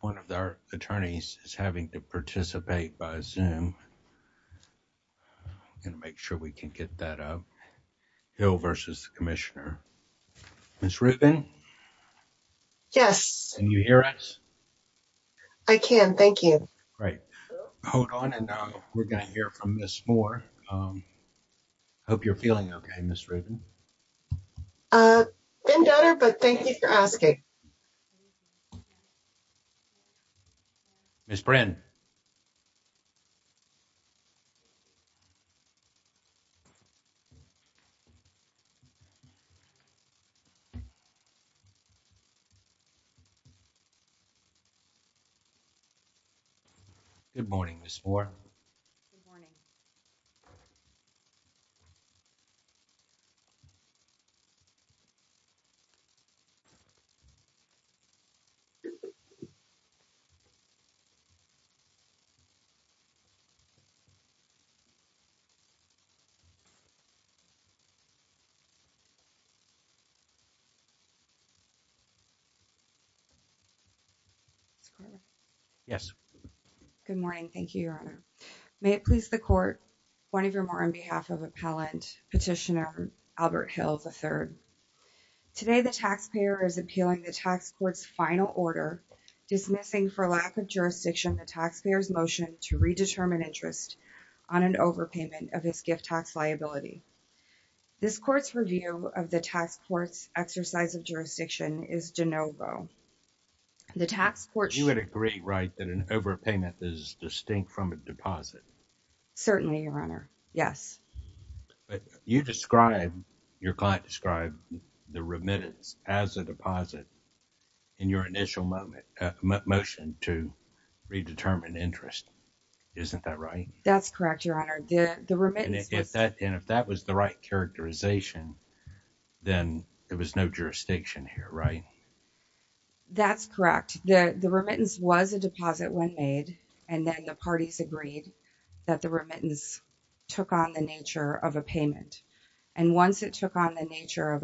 One of our attorneys is having to participate by Zoom. I'm going to make sure we can get that up. Hill v. Commissioner. Ms. Rubin? Yes. Can you hear us? I can, thank you. Great. Hold on and we're going to hear from Ms. Moore. Hope you're feeling okay, Ms. Rubin. Been better, but thank you for asking. Ms. Brynn? Good morning, Ms. Moore. Good morning. Good morning. Thank you, Your Honor. May it please the court, one of your more on behalf of Appellant Petitioner Albert Hill, III. Today, the taxpayer is appealing the tax court's final order dismissing for lack of jurisdiction the taxpayer's motion to redetermine interest on an overpayment of his gift tax liability. This court's review of the tax court's exercise of jurisdiction is de novo. You would agree, right, that an overpayment is distinct from a deposit? Certainly, Your Honor. Yes. You described, your client described the remittance as a deposit in your initial motion to redetermine interest. Isn't that right? That's correct, Your Honor. And if that was the right characterization, then there was no jurisdiction here, right? That's correct. The remittance was a deposit when made and then the parties agreed that the overpayment was a deposit when made and then the parties agreed that the remittance was a deposit when made and then the parties agreed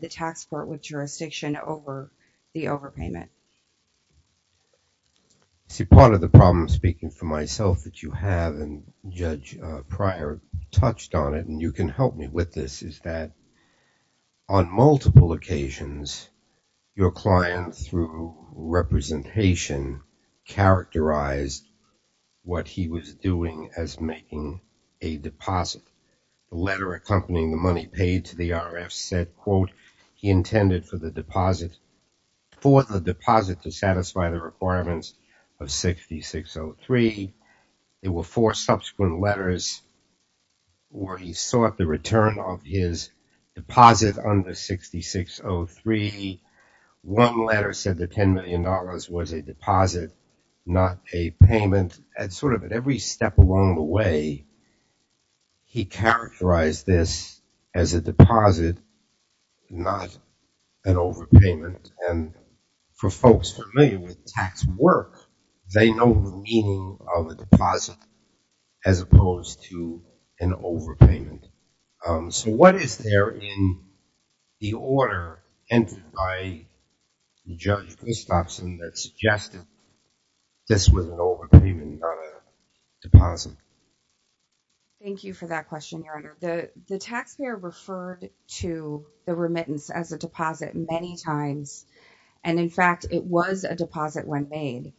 that the tax court would have jurisdiction over the overpayment. See, part of the problem, speaking for myself, that you have, and Judge Pryor touched on it, and you can help me with this, is that on multiple occasions, your client, through representation, characterized what he was doing as making a deposit. A letter accompanying the money paid to the RF said, quote, he intended for the deposit, for the deposit to satisfy the requirements of 6603. There were four subsequent letters where he sought the return of his deposit under 6603. One letter said the $10 million was a deposit, not a payment, and sort of at every step along the way, he characterized this as a deposit, not an overpayment, and for folks familiar with tax work, they know the meaning of a deposit as opposed to an overpayment. So what is there in the order entered by Judge Christofson that suggested this was an overpayment, not a deposit? Thank you for that question, Your Honor. The taxpayer referred to the remittance as a deposit many times, and in fact, it was a deposit when made,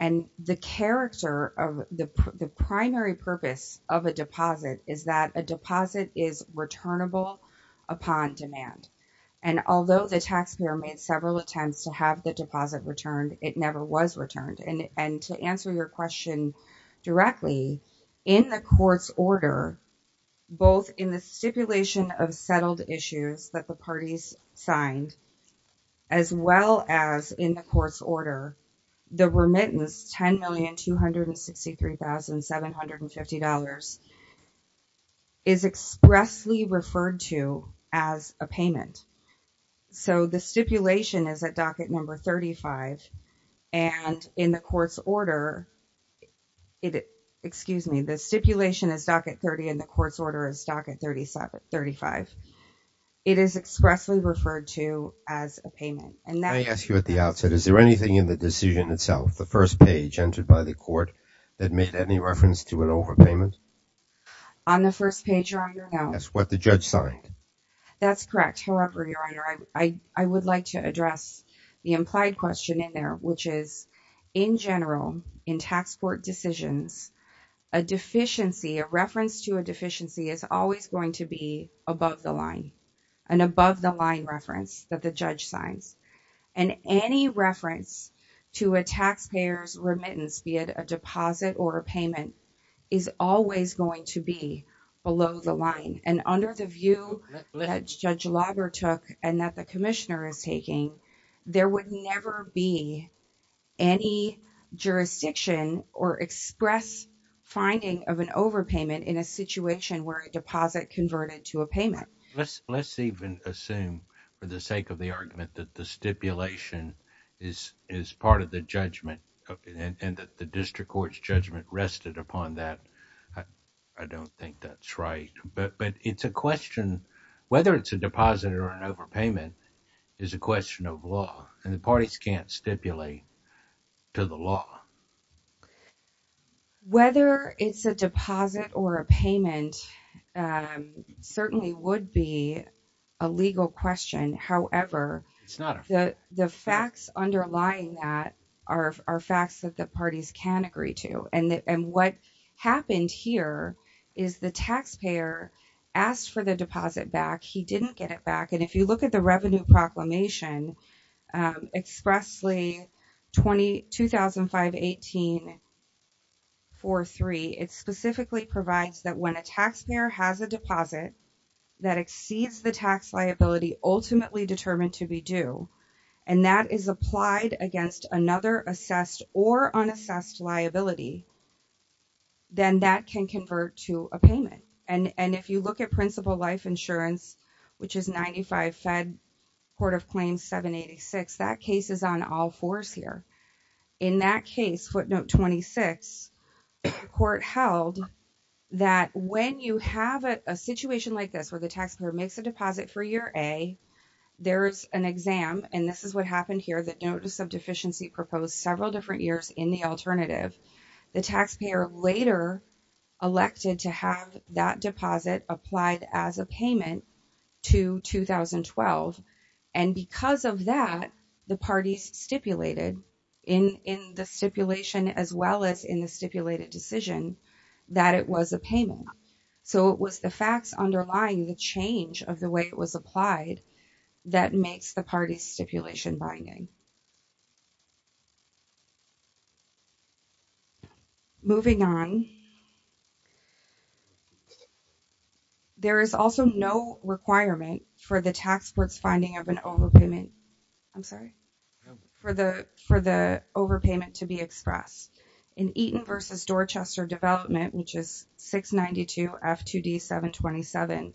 and the character of the primary purpose of a deposit is that a deposit is returnable upon demand, and although the taxpayer made several attempts to have the deposit returned, it never was returned, and to answer your question directly, in the court's order, both in the stipulation of settled issues that the parties signed, as well as in the court's order, the remittance, $10,263,750, is expressly referred to as a payment. So the stipulation is at docket number 35, and in the court's order, excuse me, the stipulation is docket 30, and the court's order is docket 35. It is expressly referred to as a payment. And may I ask you at the outset, is there anything in the decision itself, the first page entered by the court, that made any reference to an overpayment? On the first page, Your Honor, no. That's what the judge signed. That's correct. However, Your Honor, I would like to address the implied question in there, which is, in general, in tax court decisions, a deficiency, a reference to a deficiency, is always going to be above the line, an above the line reference that the judge signs. And any reference to a taxpayer's remittance, be it a deposit or a payment, is always going to be below the line. And under the view that Judge Lager took, and that the commissioner is taking, there would never be any jurisdiction or express finding of an overpayment in a situation where a deposit converted to a payment. Let's even assume, for the sake of the argument, that the stipulation is part of the judgment, and that the district court's judgment rested upon that. I don't think that's right. But it's a question, whether it's a deposit or an overpayment, is a question of law. And the parties can't stipulate to the law. Whether it's a deposit or a payment certainly would be a legal question. However, it's not. The facts underlying that are facts that the parties can agree to. And what happened here is the taxpayer asked for the deposit back. He didn't get it back. And if you look at the revenue 51843, it specifically provides that when a taxpayer has a deposit that exceeds the tax liability ultimately determined to be due, and that is applied against another assessed or unassessed liability, then that can convert to a payment. And if you look at principal life footnote 26, the court held that when you have a situation like this, where the taxpayer makes a deposit for year A, there's an exam. And this is what happened here. The notice of deficiency proposed several different years in the alternative. The taxpayer later elected to have that deposit applied as a payment to 2012. And because of that, the parties stipulated in the stipulation as well as in the stipulated decision that it was a payment. So it was the facts underlying the change of the way it was applied that makes the parties stipulation binding. Moving on. There is also no requirement for the tax court's finding of an overpayment. I'm sorry. For the overpayment to be expressed. In Eaton versus Dorchester development, which is 692 F2D 727,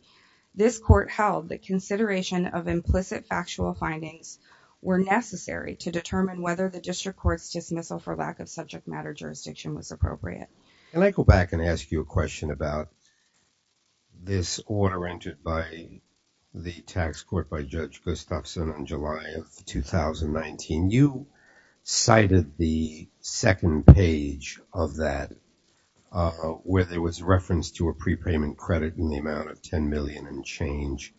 this court held that consideration of implicit factual findings were necessary to determine whether the district court's dismissal for lack of subject matter jurisdiction was appropriate. Can I go back and ask you a question about this order entered by the tax court by Judge on July of 2019. You cited the second page of that where there was reference to a prepayment credit in the amount of 10 million and change.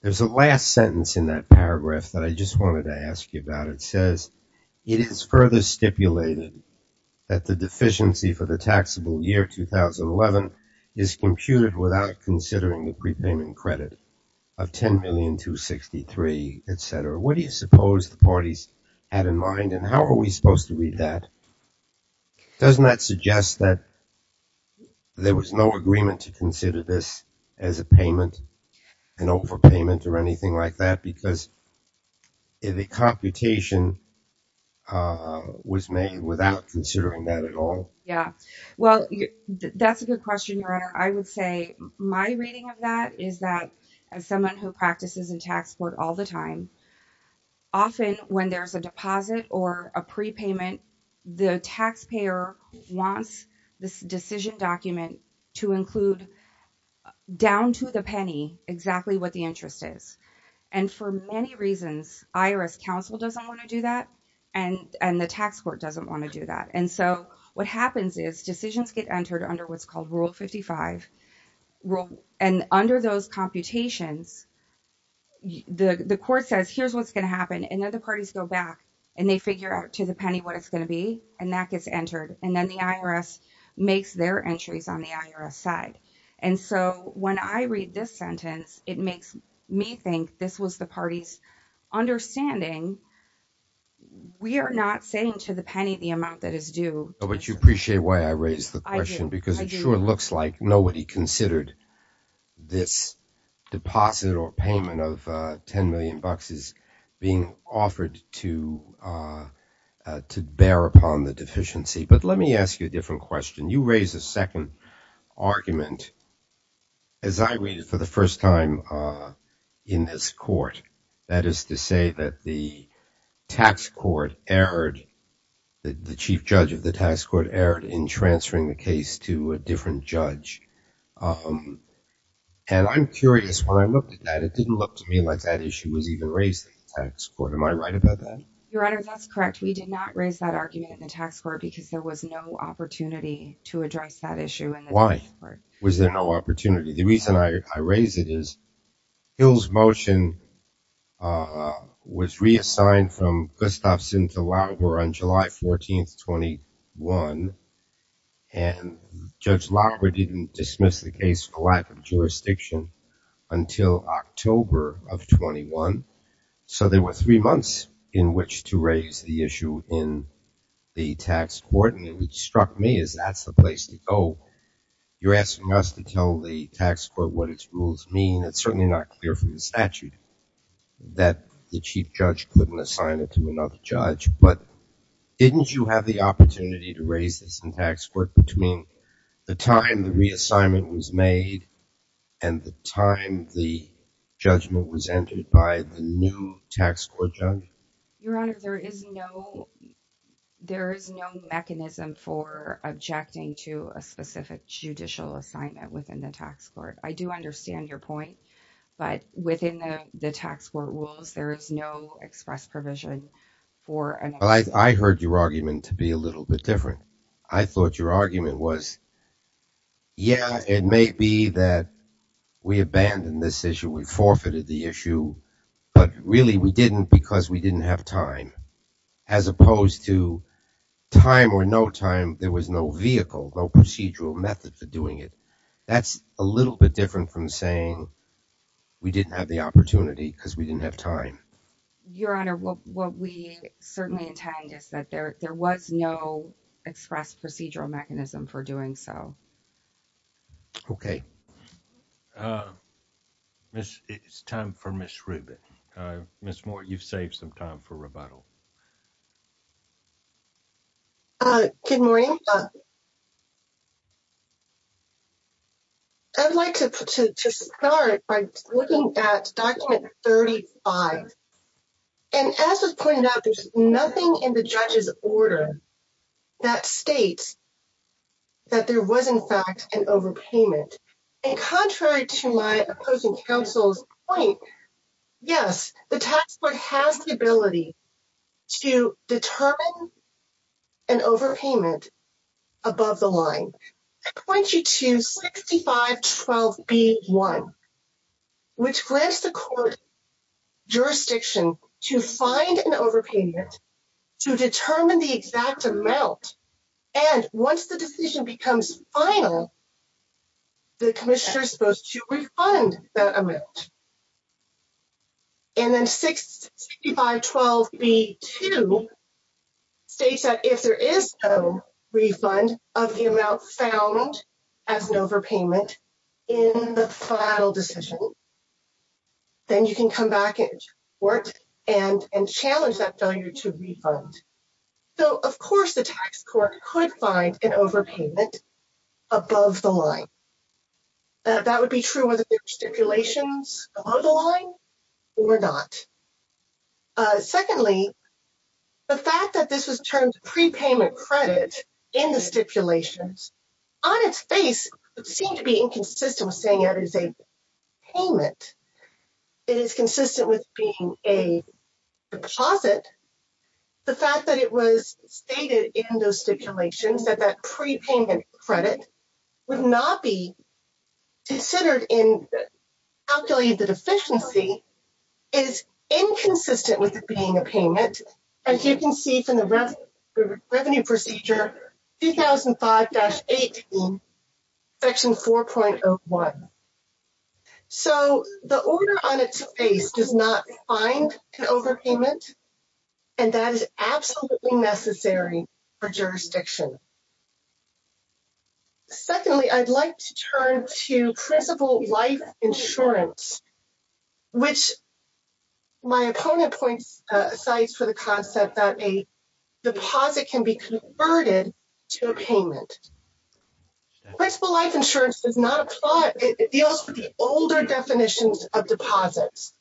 There's a last sentence in that paragraph that I just wanted to ask you about. It says, it is further stipulated that the deficiency for the What do you suppose the parties had in mind and how are we supposed to read that? Doesn't that suggest that there was no agreement to consider this as a payment, an overpayment or anything like that? Because the computation was made without considering that at all? Yeah. Well, that's a good question. I would say my reading of that is that as someone who all the time, often when there's a deposit or a prepayment, the taxpayer wants this decision document to include down to the penny exactly what the interest is. And for many reasons, IRS counsel doesn't want to do that. And the tax court doesn't want to do that. And so what happens is decisions get entered under what's called rule 55. And under those computations, the court says, here's what's going to happen. And then the parties go back and they figure out to the penny what it's going to be, and that gets entered. And then the IRS makes their entries on the IRS side. And so when I read this sentence, it makes me think this was the party's understanding. We are not saying to the penny, the amount that is due. But you appreciate why I raised the question? Because it sure looks like nobody considered this deposit or payment of 10 million bucks is being offered to bear upon the deficiency. But let me ask you a different question. You raise a second argument. As I read it for the first time in this court, that is to say that the chief judge of the tax court erred in transferring the case to a different judge. And I'm curious, when I looked at that, it didn't look to me like that issue was even raised in the tax court. Am I right about that? Your Honor, that's correct. We did not raise that argument in the tax court because there was no opportunity to address that issue in the tax court. Was there no opportunity? The reason I raise it is Hill's motion was reassigned from Gustav Sinthe-Laguerre on July 14th, 21. And Judge Laguerre didn't dismiss the case for lack of jurisdiction until October of 21. So there were three months in which to raise the issue in the tax court. And what struck me is that's the place to go. You're asking us to tell the tax court what its rules mean. It's certainly not clear from the statute that the chief judge couldn't assign it to another judge. But didn't you have the opportunity to raise this in tax court between the time the reassignment was made and the time the judgment was entered by the new judge? There is no mechanism for objecting to a specific judicial assignment within the tax court. I do understand your point. But within the tax court rules, there is no express provision for an... I heard your argument to be a little bit different. I thought your argument was, yeah, it may be that we abandoned this issue. We forfeited the issue. But really, we didn't because we didn't have time. As opposed to time or no time, there was no vehicle, no procedural method for doing it. That's a little bit different from saying we didn't have the opportunity because we didn't have time. Your Honor, what we certainly intend is that there was no express procedural mechanism for doing so. Okay. It's time for Ms. Rubin. Ms. Moore, you've saved some time for rebuttal. Good morning. I'd like to start by looking at document 35. And as was pointed out, there's nothing in the judge's order that states that there was, in fact, an overpayment. And contrary to my opposing counsel's point, yes, the tax court has the ability to determine an overpayment above the line. I point you to 6512B1, which grants the court jurisdiction to find an overpayment to determine the exact amount. And once the decision becomes final, the commissioner is supposed to refund that amount. And then 6512B2 states that if there is no refund of the amount found as an overpayment in the final decision, then you can come back to court and challenge that value to refund. So, of course, the tax court could find an overpayment above the line. That would be true with stipulations below the line or not. Secondly, the fact that this was termed prepayment credit in the stipulations, on its face, would seem to be inconsistent with saying that it is a payment. It is consistent with being a deposit. The fact that it was stated in those stipulations that that prepayment credit would not be considered in calculating the deficiency is inconsistent with it being a 2005-18 section 4.01. So, the order on its face does not find an overpayment, and that is absolutely necessary for jurisdiction. Secondly, I'd like to turn to principal life insurance, which my opponent points, cites for the concept that a deposit can be converted to a payment. Principal life insurance does not apply. It deals with the older definitions of deposits.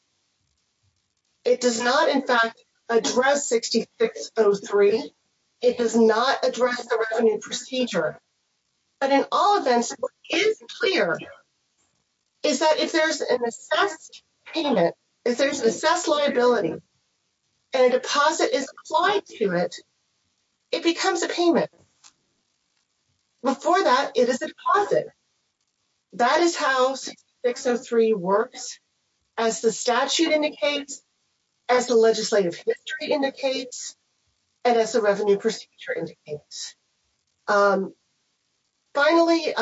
It does not, in fact, address 6603. It does not address the revenue procedure. But in all events, what is clear is that if there's an assessed payment, if there's an assessed liability, and a deposit is applied to it, it becomes a payment. Before that, it is a deposit. That is how 6603 works, as the statute indicates, as the legislative history indicates, and as the revenue procedure indicates. Finally,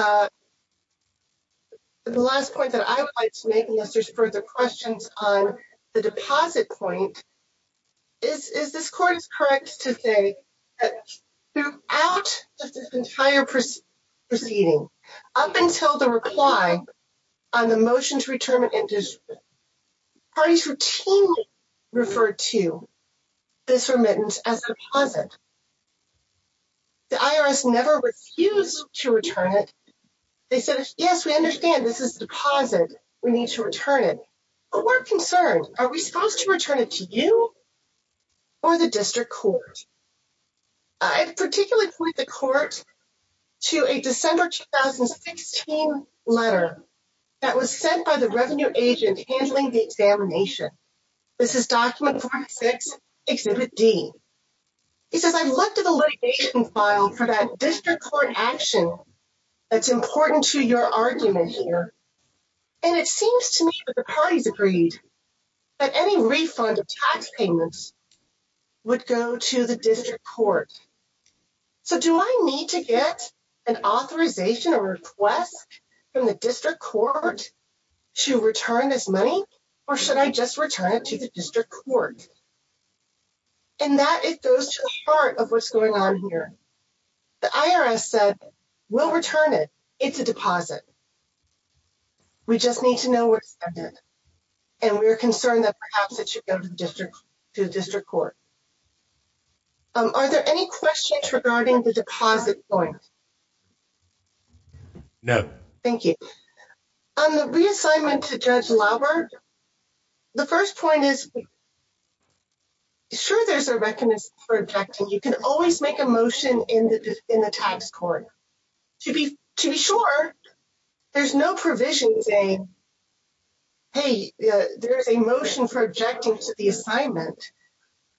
the last point that I would like to make, unless there's further questions on the deposit point, is this court is correct to say that throughout this entire proceeding, up until the reply on the motion to return it, parties routinely referred to this remittance as a deposit. The IRS never refused to return it. They said, yes, we understand this is a deposit. We need to return it. But we're concerned. Are we supposed to return it to you or the district court? I particularly point the court to a December 2016 letter that was sent by the revenue agent handling the examination. This is document 46, exhibit D. It says, I looked at the litigation file for that district court action that's important to your argument here. And it seems to me that the parties agreed that any refund of tax payments would go to the district court. So do I need to get an authorization or request from the IRS? And that goes to the heart of what's going on here. The IRS said, we'll return it. It's a deposit. We just need to know what's in it. And we're concerned that perhaps it should go to the district court. Are there any questions regarding the deposit point? No. Thank you. On the reassignment to Judge Laubert, the first point is, sure, there's a recommendation for objecting. You can always make a motion in the tax court. To be sure, there's no provision saying, hey, there's a motion for objecting to the assignment.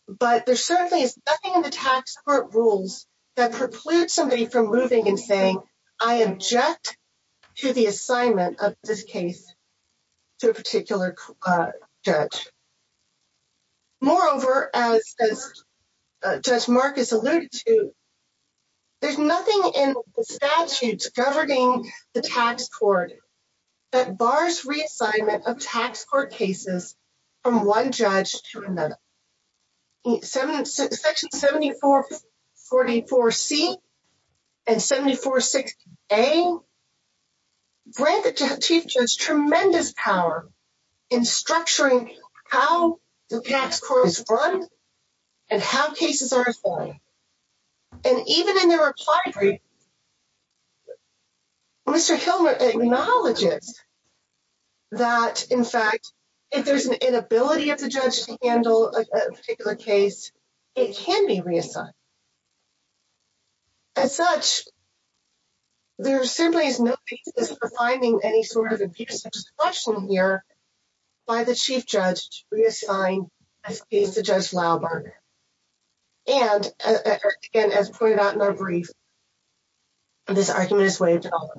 But there certainly is nothing in the tax court rules that precludes somebody from moving and saying, I object to the assignment of this case to a particular judge. Moreover, as Judge Marcus alluded to, there's nothing in the statutes governing the tax court that bars reassignment of tax court cases from one judge to another. Section 7444C and 746A grant the chief judge tremendous power in structuring how the tax court is run and how cases are assigned. And even in the reply brief, Mr. Hill acknowledges that, in fact, if there's an inability of the judge to handle a particular case, it can be reassigned. As such, there simply is no basis for finding any sort of abuse of discretion here by the chief judge to reassign a case to Judge Laubert. And again, as pointed out in our brief, this argument is waived at all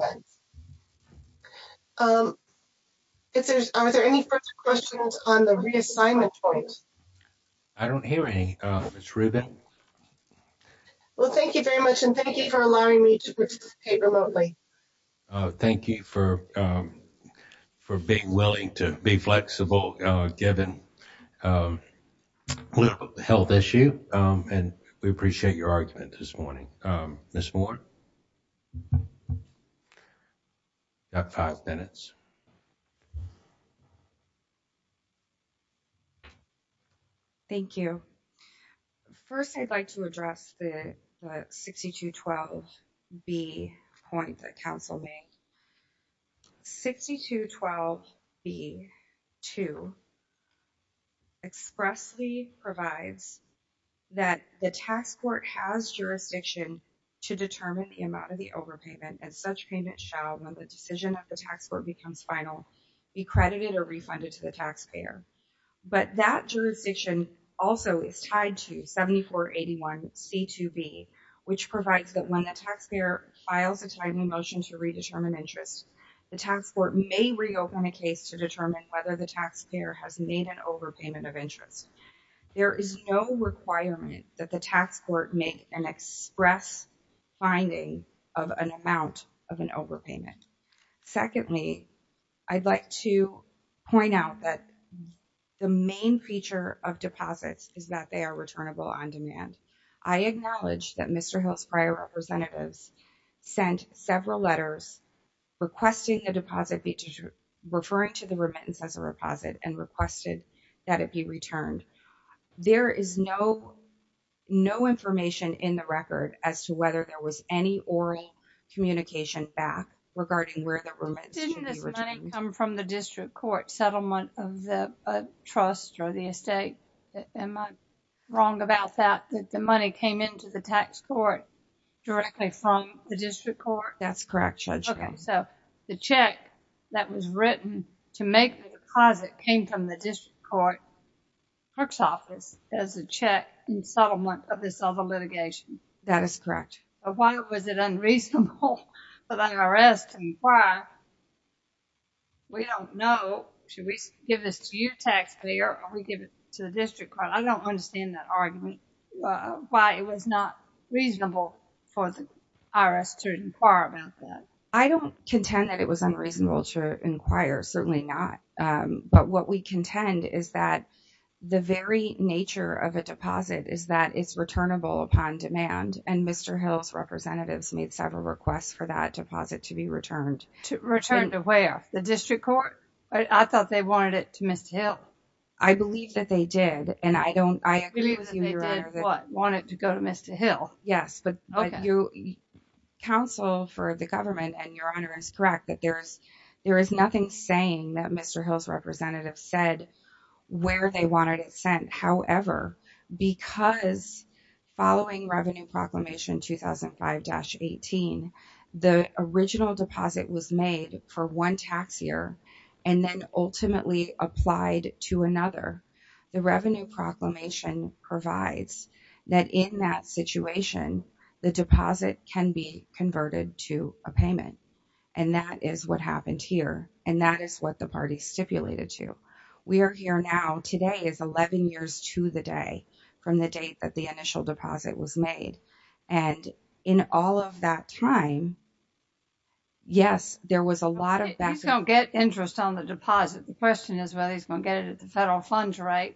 events. Are there any further questions on the reassignment point? I don't hear any, Ms. Rubin. Well, thank you very much and thank you for allowing me to participate remotely. Thank you for being willing to be flexible, given the health issue, and we appreciate your argument this morning. Ms. Moore, you've got five minutes. Thank you. First, I'd like to address the 6212B point that Council made. 6212B-2 expressly provides that the tax court has jurisdiction to determine the amount of the overpayment, and such payment shall, when the decision of the tax court becomes final, be credited or refunded to the taxpayer. But that jurisdiction also is tied to 7481C-2B, which provides that when the taxpayer files a timely motion to redetermine interest, the tax court may reopen a case to determine whether the taxpayer has made an overpayment of interest. There is no requirement that the tax court make an express finding of an amount of an overpayment. Secondly, I'd like to point out that the main feature of deposits is that they are returnable on demand. I acknowledge that Mr. Hill's prior representatives sent several letters requesting the deposit be, referring to the remittance as a deposit, and requested that it be returned. There is no information in the record as to whether there was any oral communication back regarding where the remittance should be returned. Didn't this money come from the district court settlement of the trust or the estate? Am I wrong about that, that the money came into the tax court directly from the district court? That's correct, Judge. Okay, so the check that was written to make the deposit came from the district court clerk's office as a check in settlement of this other litigation. That is correct. But why was it unreasonable for the IRS to inquire? We don't know. Should we give this to your taxpayer or we give it to the district court? I don't understand that argument, why it was not reasonable for the IRS to inquire about that. I don't contend that it was unreasonable to inquire, certainly not, but what we contend is that the very nature of a deposit is that it's returnable upon demand, and Mr. Hill's representatives made several requests for that deposit to be returned. To return to where? The district court? I thought they wanted it to Mr. Hill. I believe that they did, and I agree with you, Your Honor, that they wanted it to go to Mr. Hill. Yes, but counsel for the government, and Your Honor is correct, that there is nothing saying that Mr. Hill's representatives said where they wanted it sent. However, because following Revenue Proclamation 2005-18, the original deposit was made for one tax year and then ultimately applied to another, the Revenue Proclamation provides that in that situation, the deposit can be converted to a payment, and that is what happened here, and that is what the party stipulated to. We are here now, today is 11 years to the day from the date that the initial deposit was made, and in all of that time, yes, there was a lot of... You don't get interest on the deposit. The question is whether he's going to get it at the federal funds rate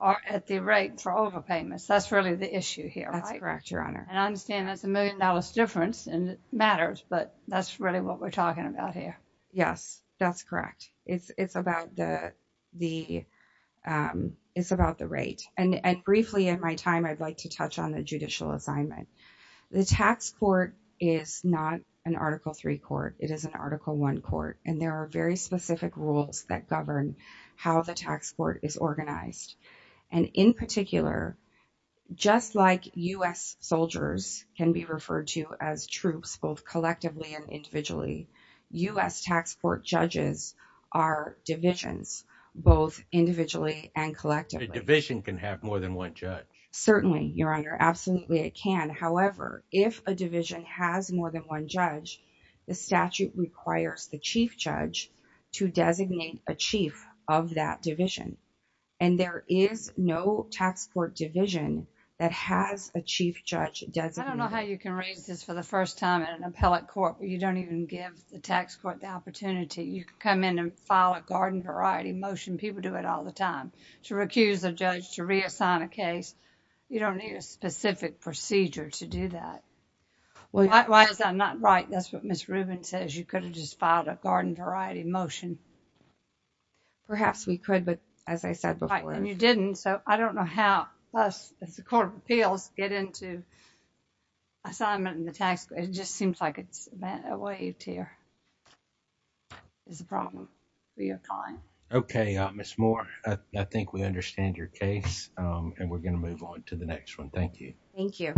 or at the rate for overpayments. That's really the issue here. That's correct, Your Honor. And I understand there's a million dollars difference, and it matters, but that's really what we're talking about here. Yes, that's correct. It's about the rate, and briefly in my time, I'd like to touch on the judicial assignment. The tax court is not an Article III court. It is an Article I court, and there are very specific rules that govern how the tax court is organized, and in particular, just like U.S. soldiers can be referred to as troops, both collectively and individually, U.S. tax court judges are divisions, both individually and collectively. A division can have more than one judge. Certainly, Your Honor. Absolutely, it can. However, if a division has more than one judge, the statute requires the chief judge to designate a chief of that division, and there is no tax court division that has a chief judge designated. I don't know how you can raise this for the first time in an appellate court where you don't even give the tax court the opportunity. You can come in and file a garden variety motion. People do it all the time to recuse a judge, to reassign a case. You don't need a specific procedure to do that. Why is that not right? That's what Ms. Rubin says. You could have just filed a garden variety motion. Perhaps we could, but as I said before. And you didn't, so I don't know how us, as the Court of Appeals, get into assignment in the tax court. It just seems like it's a wave tear is the problem for your client. Okay, Ms. Moore, I think we understand your case, and we're going to move on to the next one. Thank you. Thank you.